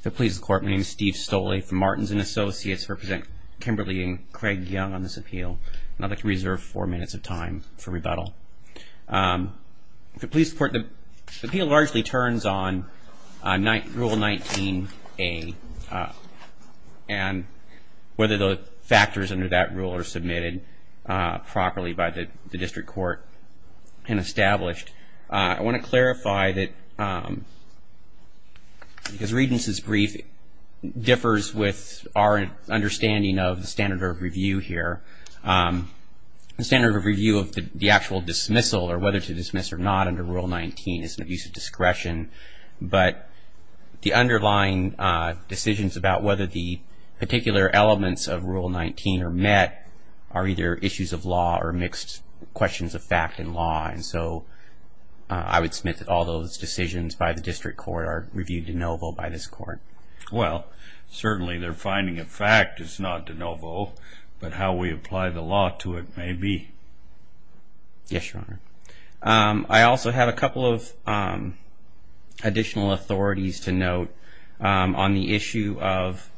If it pleases the Court, my name is Steve Stolle from Martins & Associates. I represent Kimberly and Craig Young on this appeal. I'd like to reserve four minutes of time for rebuttal. If it pleases the Court, the appeal largely turns on Rule 19A and whether the factors under that rule are submitted properly by the district court and established. I want to clarify that Regence's brief differs with our understanding of the standard of review here. The standard of review of the actual dismissal or whether to dismiss or not under Rule 19 is an abuse of discretion. But the underlying decisions about whether the particular elements of Rule 19 are met are either issues of law or mixed questions of fact and law. So I would submit that all those decisions by the district court are reviewed de novo by this Court. Well, certainly their finding of fact is not de novo, but how we apply the law to it may be. Yes, Your Honor. I also have a couple of additional authorities to note on the issue of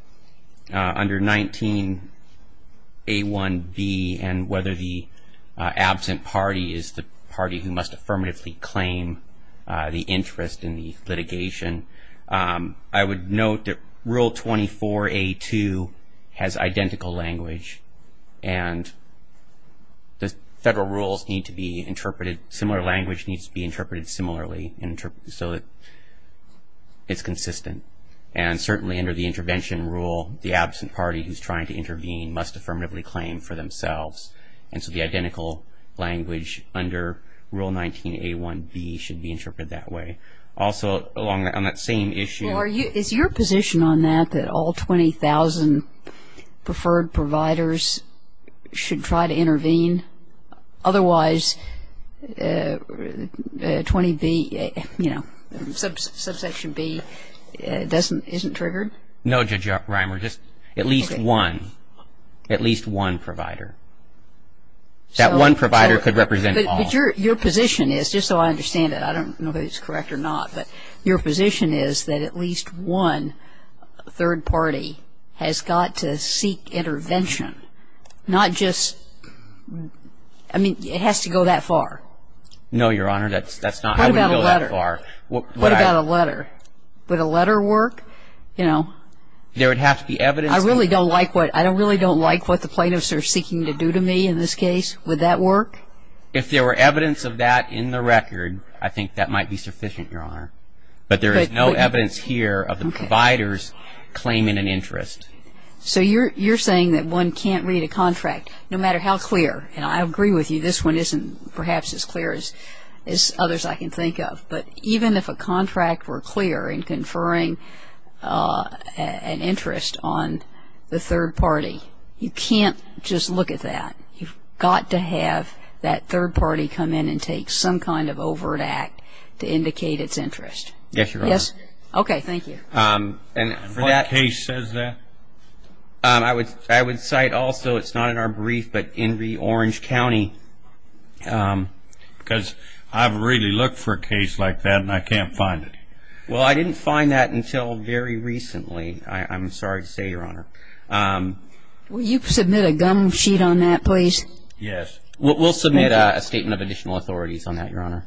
under 19A1B and whether the absent party is the party who must affirmatively claim the interest in the litigation. I would note that Rule 24A2 has identical language and the federal rules need to be interpreted, similar language needs to be interpreted similarly so that it's consistent. And certainly under the intervention rule, the absent party who's trying to intervene must affirmatively claim for themselves. And so the identical language under Rule 19A1B should be interpreted that way. Also, on that same issue Well, is your position on that that all 20,000 preferred providers should try to intervene? Otherwise 20B, you know, subsection B isn't triggered? No, Judge Reimer, just at least one, at least one provider. That one provider could represent all. But your position is, just so I understand it, I don't know if it's correct or not, but your position is that at least one third party has got to seek intervention, not just, I mean, it has to go that far. No, Your Honor, that's not, I wouldn't go that far. What about a letter? Would a letter work? There would have to be evidence. I really don't like what the plaintiffs are seeking to do to me in this case. Would that work? If there were evidence of that in the record, I think that might be sufficient, Your Honor. But there is no evidence here of the providers claiming an interest. So you're saying that one can't read a contract, no matter how clear. And I agree with you, this one isn't perhaps as clear as others I can think of. But even if a contract were clear in conferring an interest on the third party, you can't just look at that. You've got to have that third party come in and take some kind of overt act to indicate its interest. Yes, Your Honor. Okay, thank you. And what case says that? I would cite also, it's not in our brief, but Inree Orange County. Because I've really looked for a case like that and I can't find it. Well, I didn't find that until very recently, I'm sorry to say, Your Honor. Will you submit a gum sheet on that, please? Yes. Thank you, Your Honor.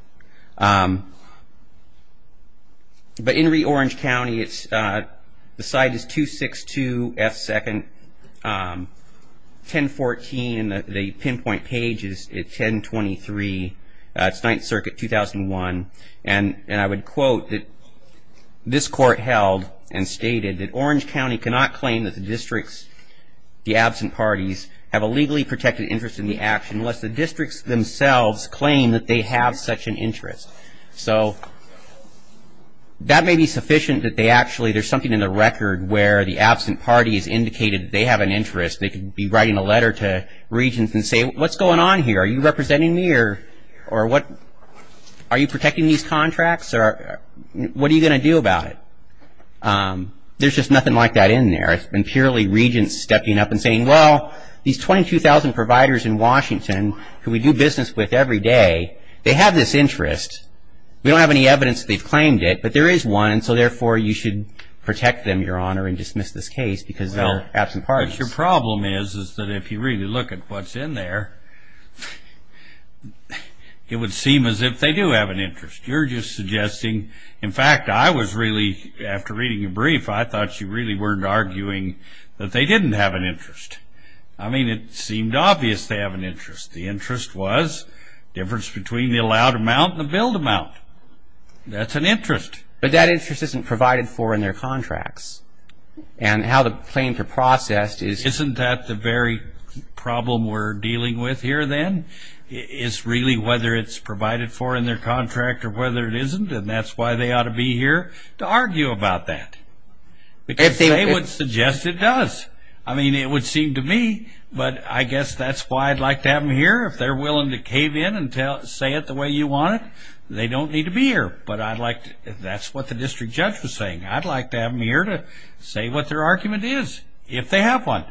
But Inree Orange County, the site is 262 F. 2nd, 1014. The pinpoint page is 1023. It's Ninth Circuit, 2001. And I would quote that this court held and stated that Orange County cannot claim that the districts, the absent parties, have a legally protected interest in the action unless the districts themselves claim that they have such an interest. So, that may be sufficient that they actually, there's something in the record where the absent parties indicated they have an interest. They could be writing a letter to regents and say, what's going on here? Are you representing me or what? Are you protecting these contracts or what are you going to do about it? There's just nothing like that in there. There's been purely regents stepping up and saying, well, these 22,000 providers in Washington who we do business with every day, they have this interest. We don't have any evidence that they've claimed it, but there is one, so therefore you should protect them, Your Honor, and dismiss this case because they're absent parties. Well, what your problem is is that if you really look at what's in there, it would seem as if they do have an interest. You're just suggesting, in fact, I was really, after reading your brief, I thought you really weren't arguing that they didn't have an interest. I mean, it seemed obvious they have an interest. The interest was the difference between the allowed amount and the billed amount. That's an interest. But that interest isn't provided for in their contracts. And how the claims are processed is Isn't that the very problem we're dealing with here, then, is really whether it's provided for in their contract or whether it isn't, and that's why they ought to be here to argue about that. Because they would suggest it does. I mean, it would seem to me, but I guess that's why I'd like to have them here. If they're willing to cave in and say it the way you want it, they don't need to be here. But that's what the district judge was saying. I'd like to have them here to say what their argument is, if they have one.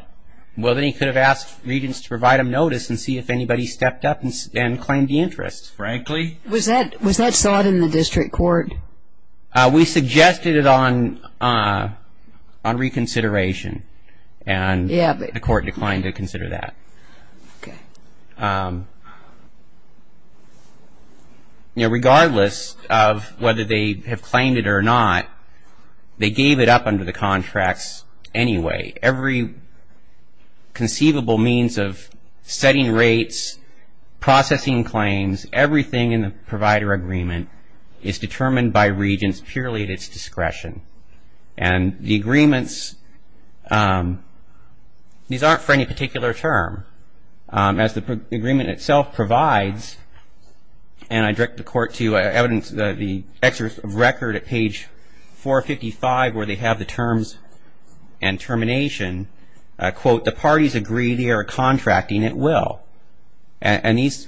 Well, then he could have asked regents to provide him notice and see if anybody stepped up and claimed the interest. Frankly. Was that sought in the district court? We suggested it on reconsideration, and the court declined to consider that. Okay. Regardless of whether they have claimed it or not, they gave it up under the contracts anyway. Every conceivable means of setting rates, processing claims, everything in the provider agreement is determined by regents purely at its discretion. And the agreements, these aren't for any particular term. As the agreement itself provides, and I direct the court to evidence, the excerpt of record at page 455 where they have the terms and termination, quote, the parties agree they are contracting at will. And these,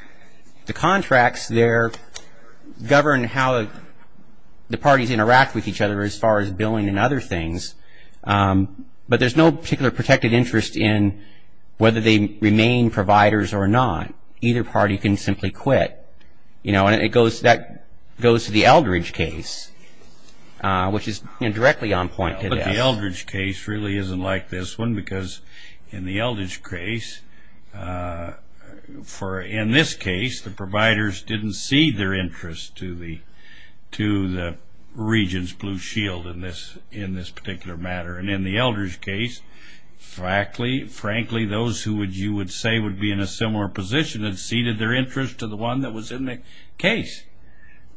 the contracts there govern how the parties interact with each other as far as billing and other things. But there's no particular protected interest in whether they remain providers or not. Either party can simply quit. You know, and that goes to the Eldridge case, which is directly on point to this. The Eldridge case really isn't like this one because in the Eldridge case, in this case the providers didn't cede their interest to the regents, Blue Shield, in this particular matter. And in the Eldridge case, frankly, those who you would say would be in a similar position had ceded their interest to the one that was in the case.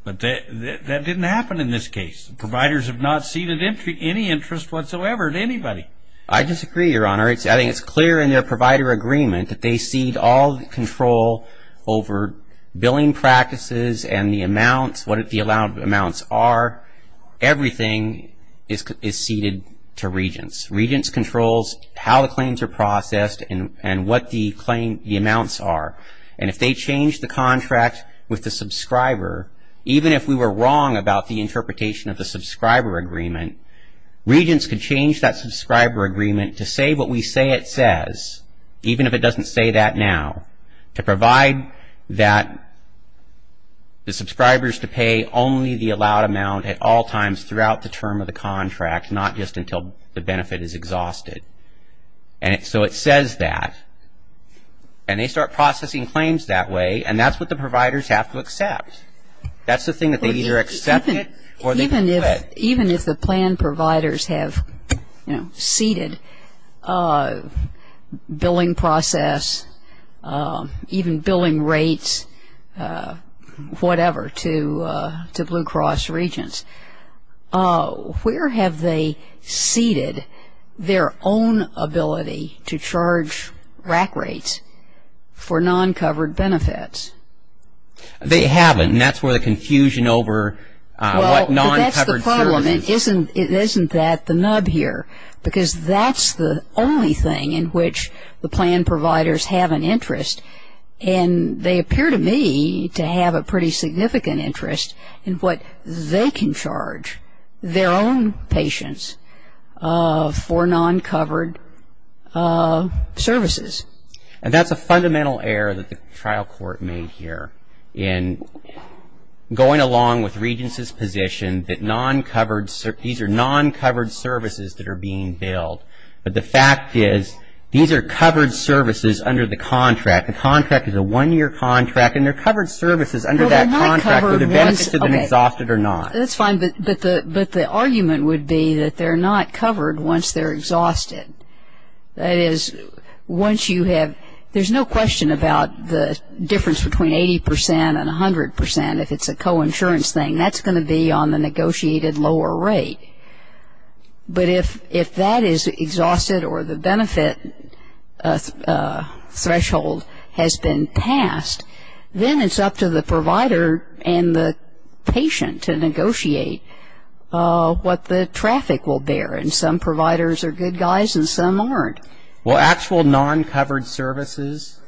But that didn't happen in this case. Providers have not ceded any interest whatsoever to anybody. I disagree, Your Honor. I think it's clear in their provider agreement that they cede all control over billing practices and the amounts, what the allowed amounts are. Everything is ceded to regents. Regents control how the claims are processed and what the amounts are. And if they change the contract with the subscriber, even if we were wrong about the interpretation of the subscriber agreement, regents could change that subscriber agreement to say what we say it says, even if it doesn't say that now, to provide that the subscribers to pay only the allowed amount at all times throughout the term of the contract, not just until the benefit is exhausted. And so it says that. And they start processing claims that way, and that's what the providers have to accept. That's the thing that they either accept it or they can quit. Even if the plan providers have, you know, ceded billing process, even billing rates, whatever, to Blue Cross regents. Oh, where have they ceded their own ability to charge RAC rates for non-covered benefits? They haven't, and that's where the confusion over what non-covered services. Well, that's the problem. It isn't that the nub here, because that's the only thing in which the plan providers have an interest. And they appear to me to have a pretty significant interest in what they can charge their own patients for non-covered services. And that's a fundamental error that the trial court made here in going along with Regents' position that these are non-covered services that are being billed. But the fact is these are covered services under the contract. The contract is a one-year contract, and they're covered services under that contract for the benefit to them exhausted or not. That's fine, but the argument would be that they're not covered once they're exhausted. That is, once you have – there's no question about the difference between 80 percent and 100 percent if it's a co-insurance thing. That's going to be on the negotiated lower rate. But if that is exhausted or the benefit threshold has been passed, then it's up to the provider and the patient to negotiate what the traffic will bear. And some providers are good guys and some aren't. Well, actual non-covered services,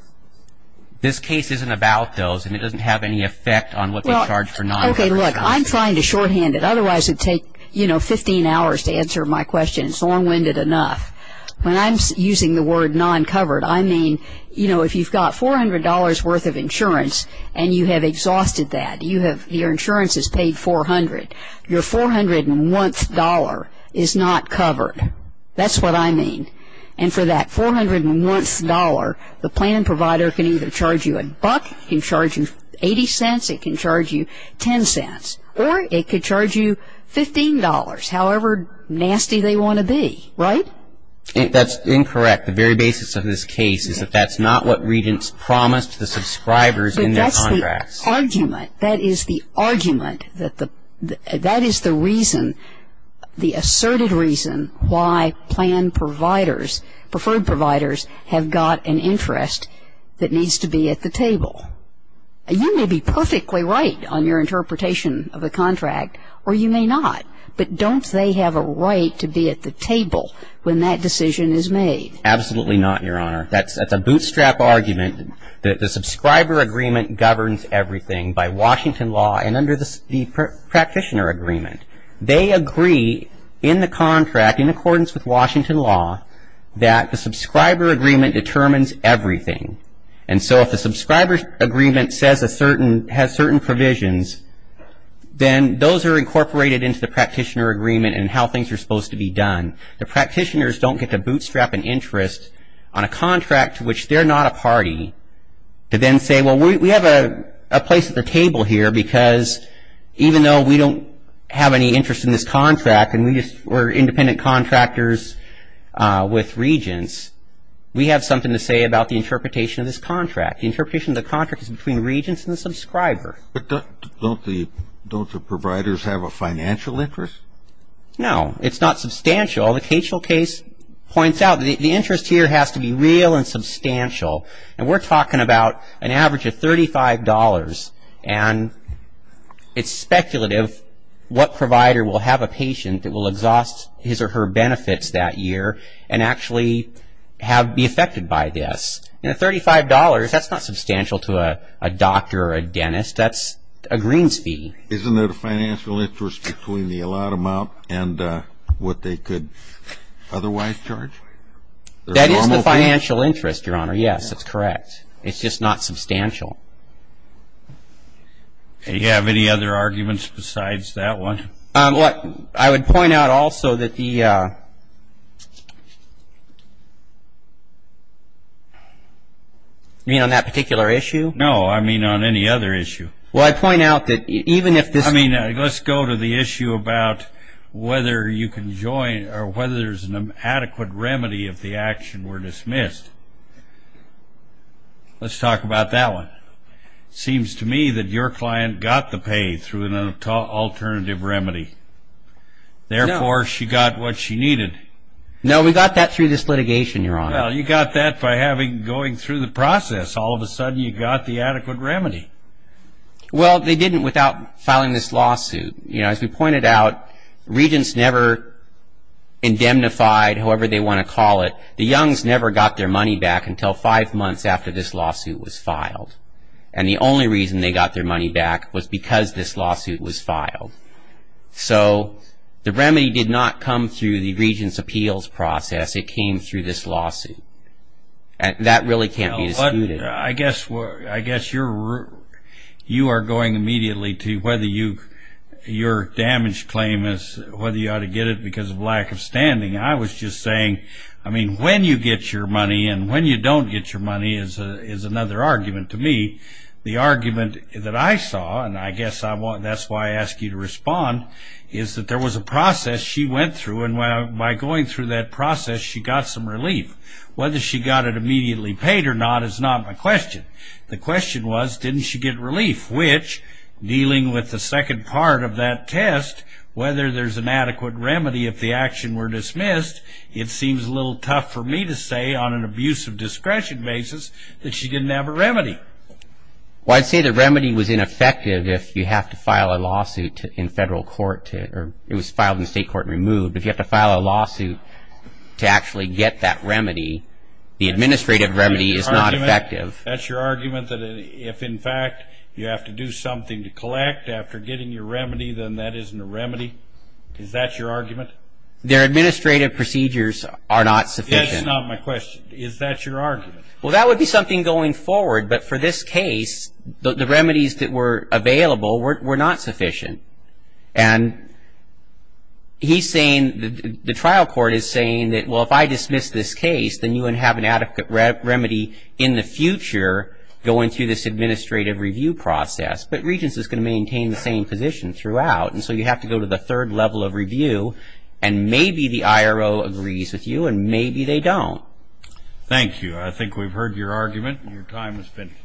this case isn't about those, and it doesn't have any effect on what they charge for non-covered services. Okay, look, I'm trying to shorthand it. Otherwise, it would take, you know, 15 hours to answer my question. It's long-winded enough. When I'm using the word non-covered, I mean, you know, if you've got $400 worth of insurance and you have exhausted that, your insurance is paid $400, your 401th dollar is not covered. That's what I mean. And for that 401th dollar, the plan provider can either charge you a buck, can charge you $0.80, it can charge you $0.10, or it could charge you $15, however nasty they want to be, right? That's incorrect. The very basis of this case is that that's not what regents promised the subscribers in their contracts. But that's the argument. That is the argument. That is the reason, the asserted reason, why plan providers, preferred providers, have got an interest that needs to be at the table. You may be perfectly right on your interpretation of the contract, or you may not. But don't they have a right to be at the table when that decision is made? Absolutely not, Your Honor. That's a bootstrap argument. The subscriber agreement governs everything by Washington law and under the practitioner agreement. They agree in the contract, in accordance with Washington law, that the subscriber agreement determines everything. And so if the subscriber agreement has certain provisions, then those are incorporated into the practitioner agreement and how things are supposed to be done. The practitioners don't get to bootstrap an interest on a contract to which they're not a party to then say, well, we have a place at the table here because even though we don't have any interest in this contract and we're independent contractors with regents, we have something to say about the interpretation of this contract. The interpretation of the contract is between the regents and the subscriber. But don't the providers have a financial interest? No. It's not substantial. The Kachel case points out that the interest here has to be real and substantial. And we're talking about an average of $35. And it's speculative what provider will have a patient that will exhaust his or her benefits that year and actually be affected by this. And $35, that's not substantial to a doctor or a dentist. That's a greens fee. Isn't there a financial interest between the allotted amount and what they could otherwise charge? That is the financial interest, Your Honor. Yes, that's correct. It's just not substantial. Do you have any other arguments besides that one? I would point out also that the – You mean on that particular issue? No, I mean on any other issue. Well, I point out that even if this – I mean, let's go to the issue about whether you can join or whether there's an adequate remedy if the action were dismissed. Let's talk about that one. It seems to me that your client got the pay through an alternative remedy. Therefore, she got what she needed. No, we got that through this litigation, Your Honor. Well, you got that by going through the process. All of a sudden, you got the adequate remedy. Well, they didn't without filing this lawsuit. As we pointed out, Regents never indemnified, however they want to call it. The Youngs never got their money back until five months after this lawsuit was filed. And the only reason they got their money back was because this lawsuit was filed. So the remedy did not come through the Regents' appeals process. It came through this lawsuit. That really can't be disputed. I guess you are going immediately to whether your damage claim is whether you ought to get it because of lack of standing. I was just saying, I mean, when you get your money and when you don't get your money is another argument to me. The argument that I saw, and I guess that's why I asked you to respond, is that there was a process she went through, and by going through that process, she got some relief. Whether she got it immediately paid or not is not my question. The question was, didn't she get relief? Which, dealing with the second part of that test, whether there's an adequate remedy if the action were dismissed, it seems a little tough for me to say on an abuse of discretion basis that she didn't have a remedy. Well, I'd say the remedy was ineffective if you have to file a lawsuit in federal court. It was filed in state court and removed. If you have to file a lawsuit to actually get that remedy, the administrative remedy is not effective. That's your argument that if, in fact, you have to do something to collect after getting your remedy, then that isn't a remedy? Is that your argument? Their administrative procedures are not sufficient. That's not my question. Is that your argument? Well, that would be something going forward, but for this case the remedies that were available were not sufficient. And he's saying, the trial court is saying that, well, if I dismiss this case, then you wouldn't have an adequate remedy in the future going through this administrative review process. But Regents is going to maintain the same position throughout, and so you have to go to the third level of review, and maybe the IRO agrees with you and maybe they don't. Thank you. I think we've heard your argument and your time has finished.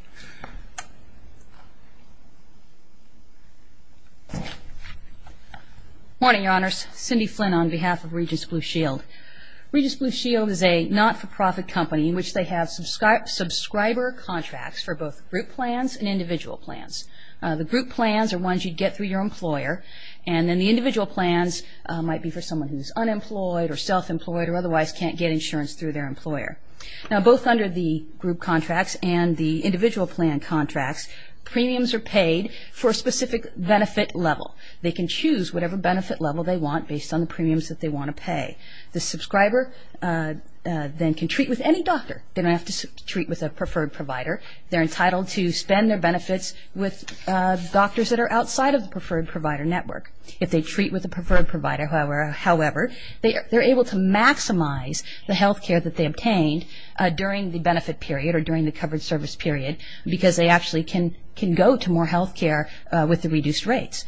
Morning, Your Honors. Cindy Flynn on behalf of Regents Blue Shield. Regents Blue Shield is a not-for-profit company in which they have subscriber contracts for both group plans and individual plans. The group plans are ones you'd get through your employer, and then the individual plans might be for someone who's unemployed or self-employed or otherwise can't get insurance through their employer. Now, both under the group contracts and the individual plan contracts, premiums are paid for a specific benefit level. They can choose whatever benefit level they want based on the premiums that they want to pay. The subscriber then can treat with any doctor. They don't have to treat with a preferred provider. They're entitled to spend their benefits with doctors that are outside of the preferred provider network. If they treat with a preferred provider, however, they're able to maximize the health care that they obtained during the benefit period or during the covered service period because they actually can go to more health care with the reduced rates.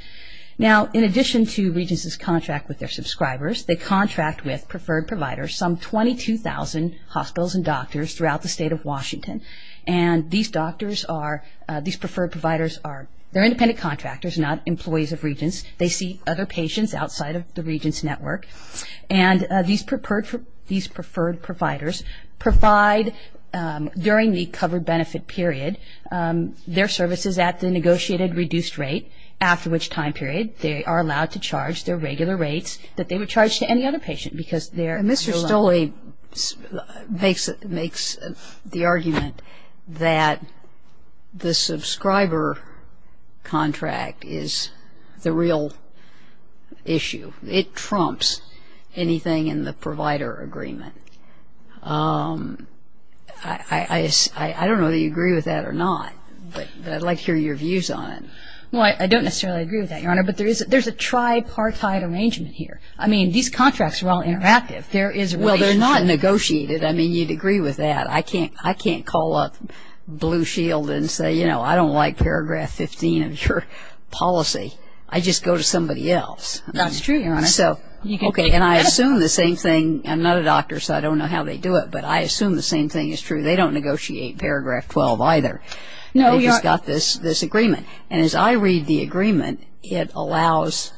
Now, in addition to Regents' contract with their subscribers, they contract with preferred providers, some 22,000 hospitals and doctors throughout the state of Washington. And these doctors are, these preferred providers are, they're independent contractors, not employees of Regents. They see other patients outside of the Regents' network. And these preferred providers provide, during the covered benefit period, their services at the negotiated reduced rate, after which time period they are allowed to charge their regular rates that they would charge to any other patient because they're under a loan. So I think that is, in a way, makes the argument that the subscriber contract is the real issue. It trumps anything in the provider agreement. I don't know whether you agree with that or not, but I'd like to hear your views on it. Well, I don't necessarily agree with that, Your Honor, but there's a tripartite arrangement here. I mean, these contracts are all interactive. There is a relationship. Well, they're not negotiated. I mean, you'd agree with that. I can't call up Blue Shield and say, you know, I don't like Paragraph 15 of your policy. I just go to somebody else. That's true, Your Honor. So, okay, and I assume the same thing. I'm not a doctor, so I don't know how they do it, but I assume the same thing is true. They don't negotiate Paragraph 12 either. No, Your Honor. They just got this agreement. And as I read the agreement, it allows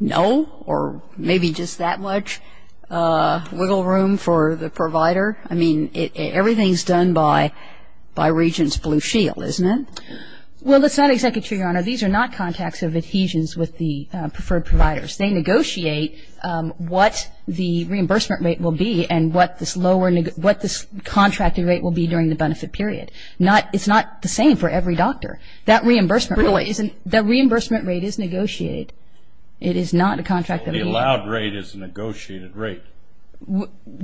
no or maybe just that much wiggle room for the provider. I mean, everything is done by Regents Blue Shield, isn't it? Well, it's not executive, Your Honor. These are not contacts of adhesions with the preferred providers. They negotiate what the reimbursement rate will be and what this contracted rate will be during the benefit period. It's not the same for every doctor. That reimbursement rate is negotiated. It is not a contracted rate. The allowed rate is a negotiated rate.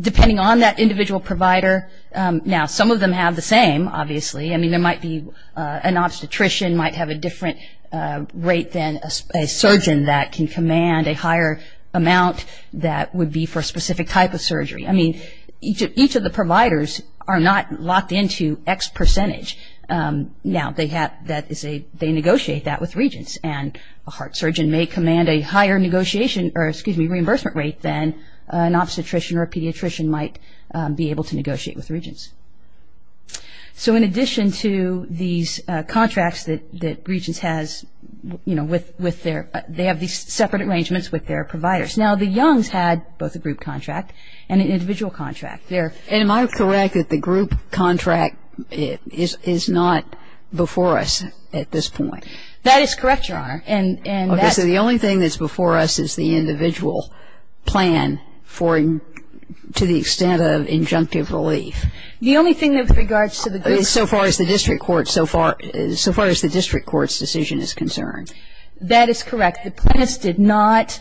Depending on that individual provider. Now, some of them have the same, obviously. I mean, there might be an obstetrician might have a different rate than a surgeon that can command a higher amount that would be for a specific type of surgery. I mean, each of the providers are not locked into X percentage. Now, they negotiate that with Regents. And a heart surgeon may command a higher reimbursement rate than an obstetrician or a pediatrician might be able to negotiate with Regents. So in addition to these contracts that Regents has, they have these separate arrangements with their providers. Now, the Youngs had both a group contract. And an individual contract. Am I correct that the group contract is not before us at this point? That is correct, Your Honor. Okay. So the only thing that's before us is the individual plan to the extent of injunctive relief. The only thing with regards to the group contract. So far as the district court's decision is concerned. That is correct. The plaintiffs did not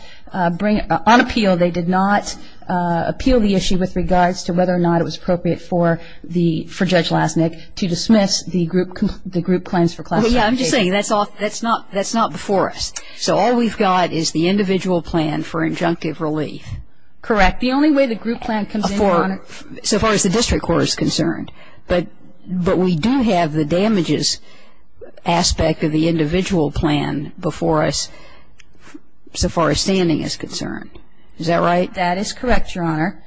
bring it on appeal. They did not appeal the issue with regards to whether or not it was appropriate for Judge Lasnik to dismiss the group plans for classification. I'm just saying that's not before us. So all we've got is the individual plan for injunctive relief. Correct. The only way the group plan comes in, Your Honor. So far as the district court is concerned. But we do have the damages aspect of the individual plan before us so far as standing is concerned. Is that right? That is correct, Your Honor.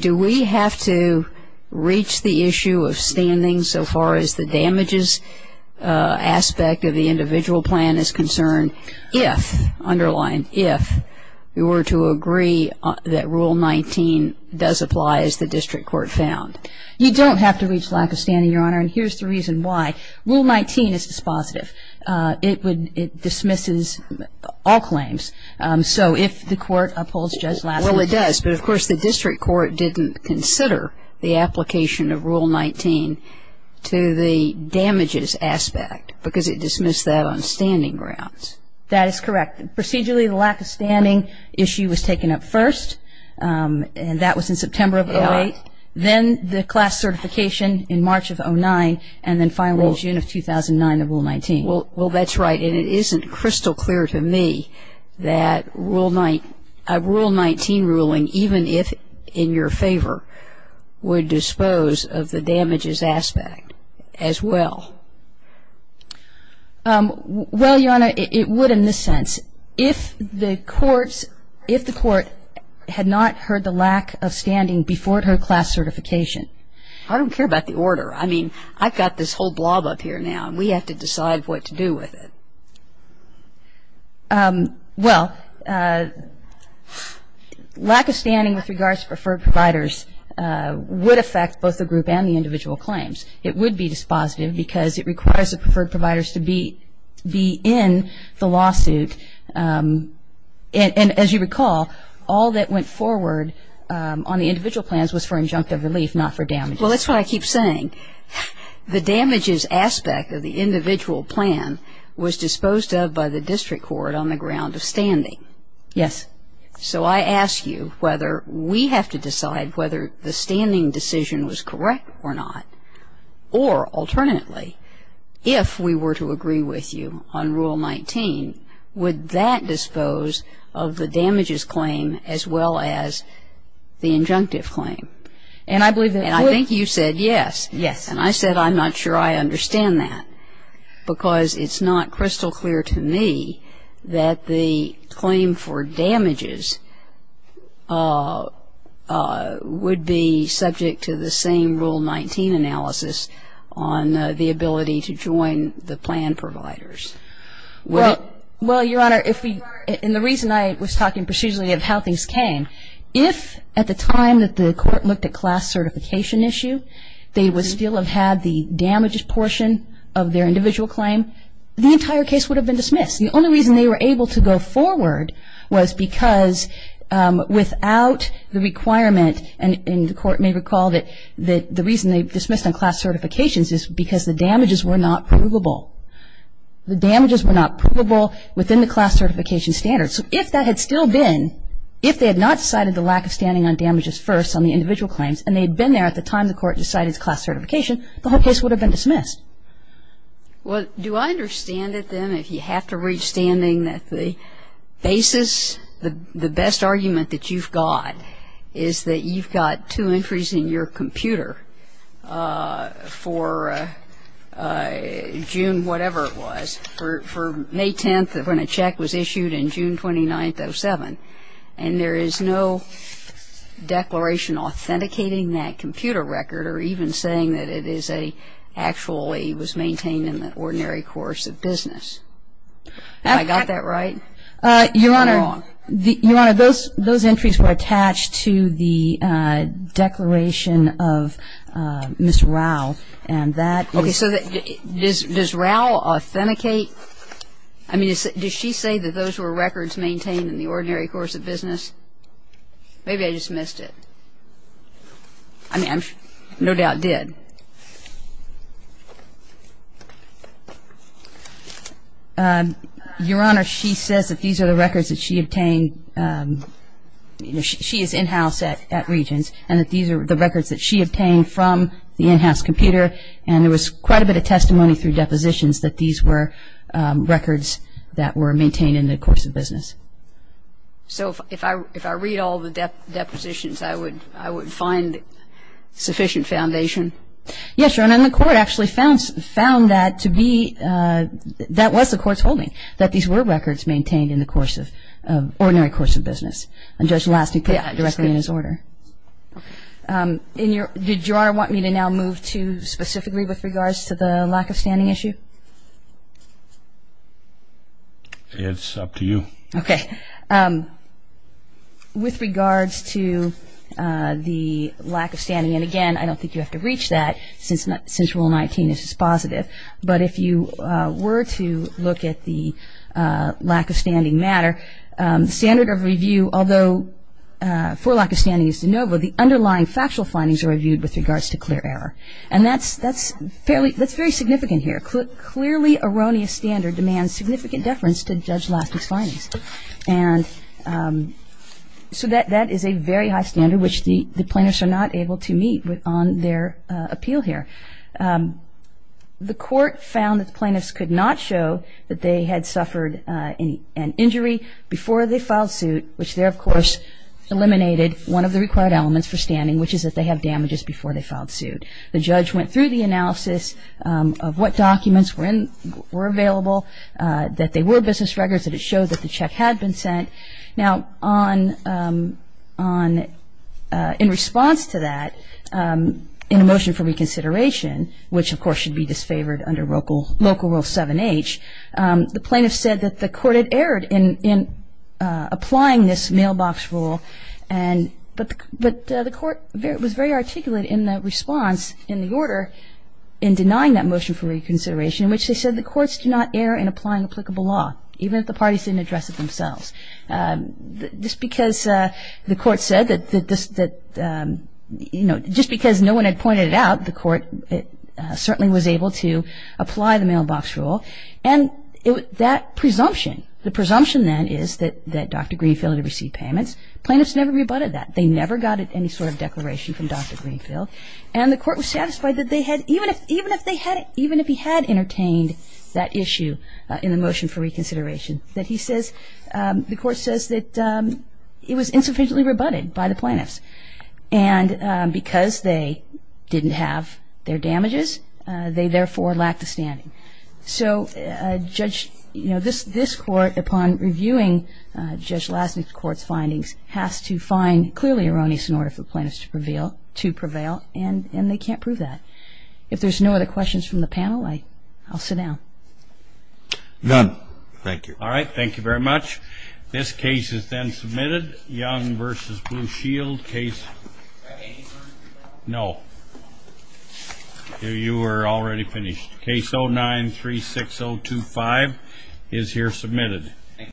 Do we have to reach the issue of standing so far as the damages aspect of the individual plan is concerned if, underlined if, we were to agree that Rule 19 does apply as the district court found? You don't have to reach lack of standing, Your Honor. And here's the reason why. Rule 19 is dispositive. It dismisses all claims. So if the court upholds Judge Lasnik. Well, it does. But, of course, the district court didn't consider the application of Rule 19 to the damages aspect because it dismissed that on standing grounds. That is correct. Procedurally, the lack of standing issue was taken up first, and that was in September of 2008. Then the class certification in March of 2009, and then finally in June of 2009, the Rule 19. Well, that's right. And it isn't crystal clear to me that a Rule 19 ruling, even if in your favor, would dispose of the damages aspect as well. Well, Your Honor, it would in this sense. If the courts, if the court had not heard the lack of standing before it heard class certification. I don't care about the order. I mean, I've got this whole blob up here now, and we have to decide what to do with it. Well, lack of standing with regards to preferred providers would affect both the group and the individual claims. It would be dispositive because it requires the preferred providers to be in the lawsuit. And as you recall, all that went forward on the individual plans was for injunctive relief, not for damages. Well, that's what I keep saying. The damages aspect of the individual plan was disposed of by the district court on the ground of standing. Yes. So I ask you whether we have to decide whether the standing decision was correct or not. Or alternately, if we were to agree with you on Rule 19, would that dispose of the damages claim as well as the injunctive claim? And I believe that would. And I think you said yes. Yes. And I said I'm not sure I understand that. Because it's not crystal clear to me that the claim for damages would be subject to the same Rule 19 analysis on the ability to join the plan providers. Well, Your Honor, and the reason I was talking procedurally of how things came, if at the time that the court looked at class certification issue, they would still have had the damages portion of their individual claim, the entire case would have been dismissed. The only reason they were able to go forward was because without the requirement, and the Court may recall that the reason they dismissed on class certifications is because the damages were not provable. The damages were not provable within the class certification standards. So if that had still been, if they had not decided the lack of standing on damages first on the individual claims, and they had been there at the time the court decided class certification, the whole case would have been dismissed. Well, do I understand it, then, if you have to reach standing that the basis, the best argument that you've got is that you've got two entries in your computer for June whatever it was, for May 10th when a check was issued and June 29th, 07. And there is no declaration authenticating that computer record or even saying that it is a, actually was maintained in the ordinary course of business. Have I got that right? You're wrong. Your Honor, those entries were attached to the declaration of Ms. Rao, and that was ---- Okay. So does Rao authenticate, I mean, does she say that those were records maintained in the ordinary course of business? Maybe I just missed it. I mean, I no doubt did. Your Honor, she says that these are the records that she obtained, you know, she is in-house at Regents, and that these are the records that she obtained from the in-house computer, and there was quite a bit of testimony through depositions that these were records that were maintained in the course of business. So if I read all the depositions, I would find sufficient foundation? Yes, Your Honor, and the Court actually found that to be, that was the Court's holding, that these were records maintained in the course of, ordinary course of business. And Judge Lasting put that directly in his order. Did Your Honor want me to now move to specifically with regards to the lack of standing issue? It's up to you. Okay. With regards to the lack of standing, and again, I don't think you have to reach that since Rule 19 is positive, but if you were to look at the lack of standing matter, standard of review, although for lack of standing is de novo, the underlying factual findings are reviewed with regards to clear error. And that's fairly significant here. Clearly erroneous standard demands significant deference to Judge Lasting's findings. And so that is a very high standard, which the plaintiffs are not able to meet on their appeal here. The Court found that the plaintiffs could not show that they had suffered an injury before they filed suit, which there, of course, eliminated one of the required elements for standing, which is that they have damages before they filed suit. The judge went through the analysis of what documents were available, that they were business records, that it showed that the check had been sent. Now, in response to that, in a motion for reconsideration, which of course should be disfavored under Local Rule 7H, the plaintiffs said that the Court had erred in applying this mailbox rule, but the Court was very articulate in the response in the order in denying that motion for reconsideration, in which they said the Courts do not err in applying applicable law, even if the parties didn't address it themselves. Just because the Court said that, you know, just because no one had pointed it out, the Court certainly was able to apply the mailbox rule. And that presumption, the presumption then is that Dr. Greenfield had received payments. Plaintiffs never rebutted that. They never got any sort of declaration from Dr. Greenfield. And the Court was satisfied that they had, even if he had entertained that issue in the motion for reconsideration, that he says, the Court says that it was insufficiently rebutted by the plaintiffs. And because they didn't have their damages, they therefore lacked the standing. So, Judge, you know, this Court, upon reviewing Judge Lasnik's Court's findings, has to find clearly erroneous in order for plaintiffs to prevail, and they can't prove that. If there's no other questions from the panel, I'll sit down. None. Thank you. All right. Thank you very much. This case is then submitted. Young v. Blue Shield. Case? No. You are already finished. Case 09-36025 is here submitted.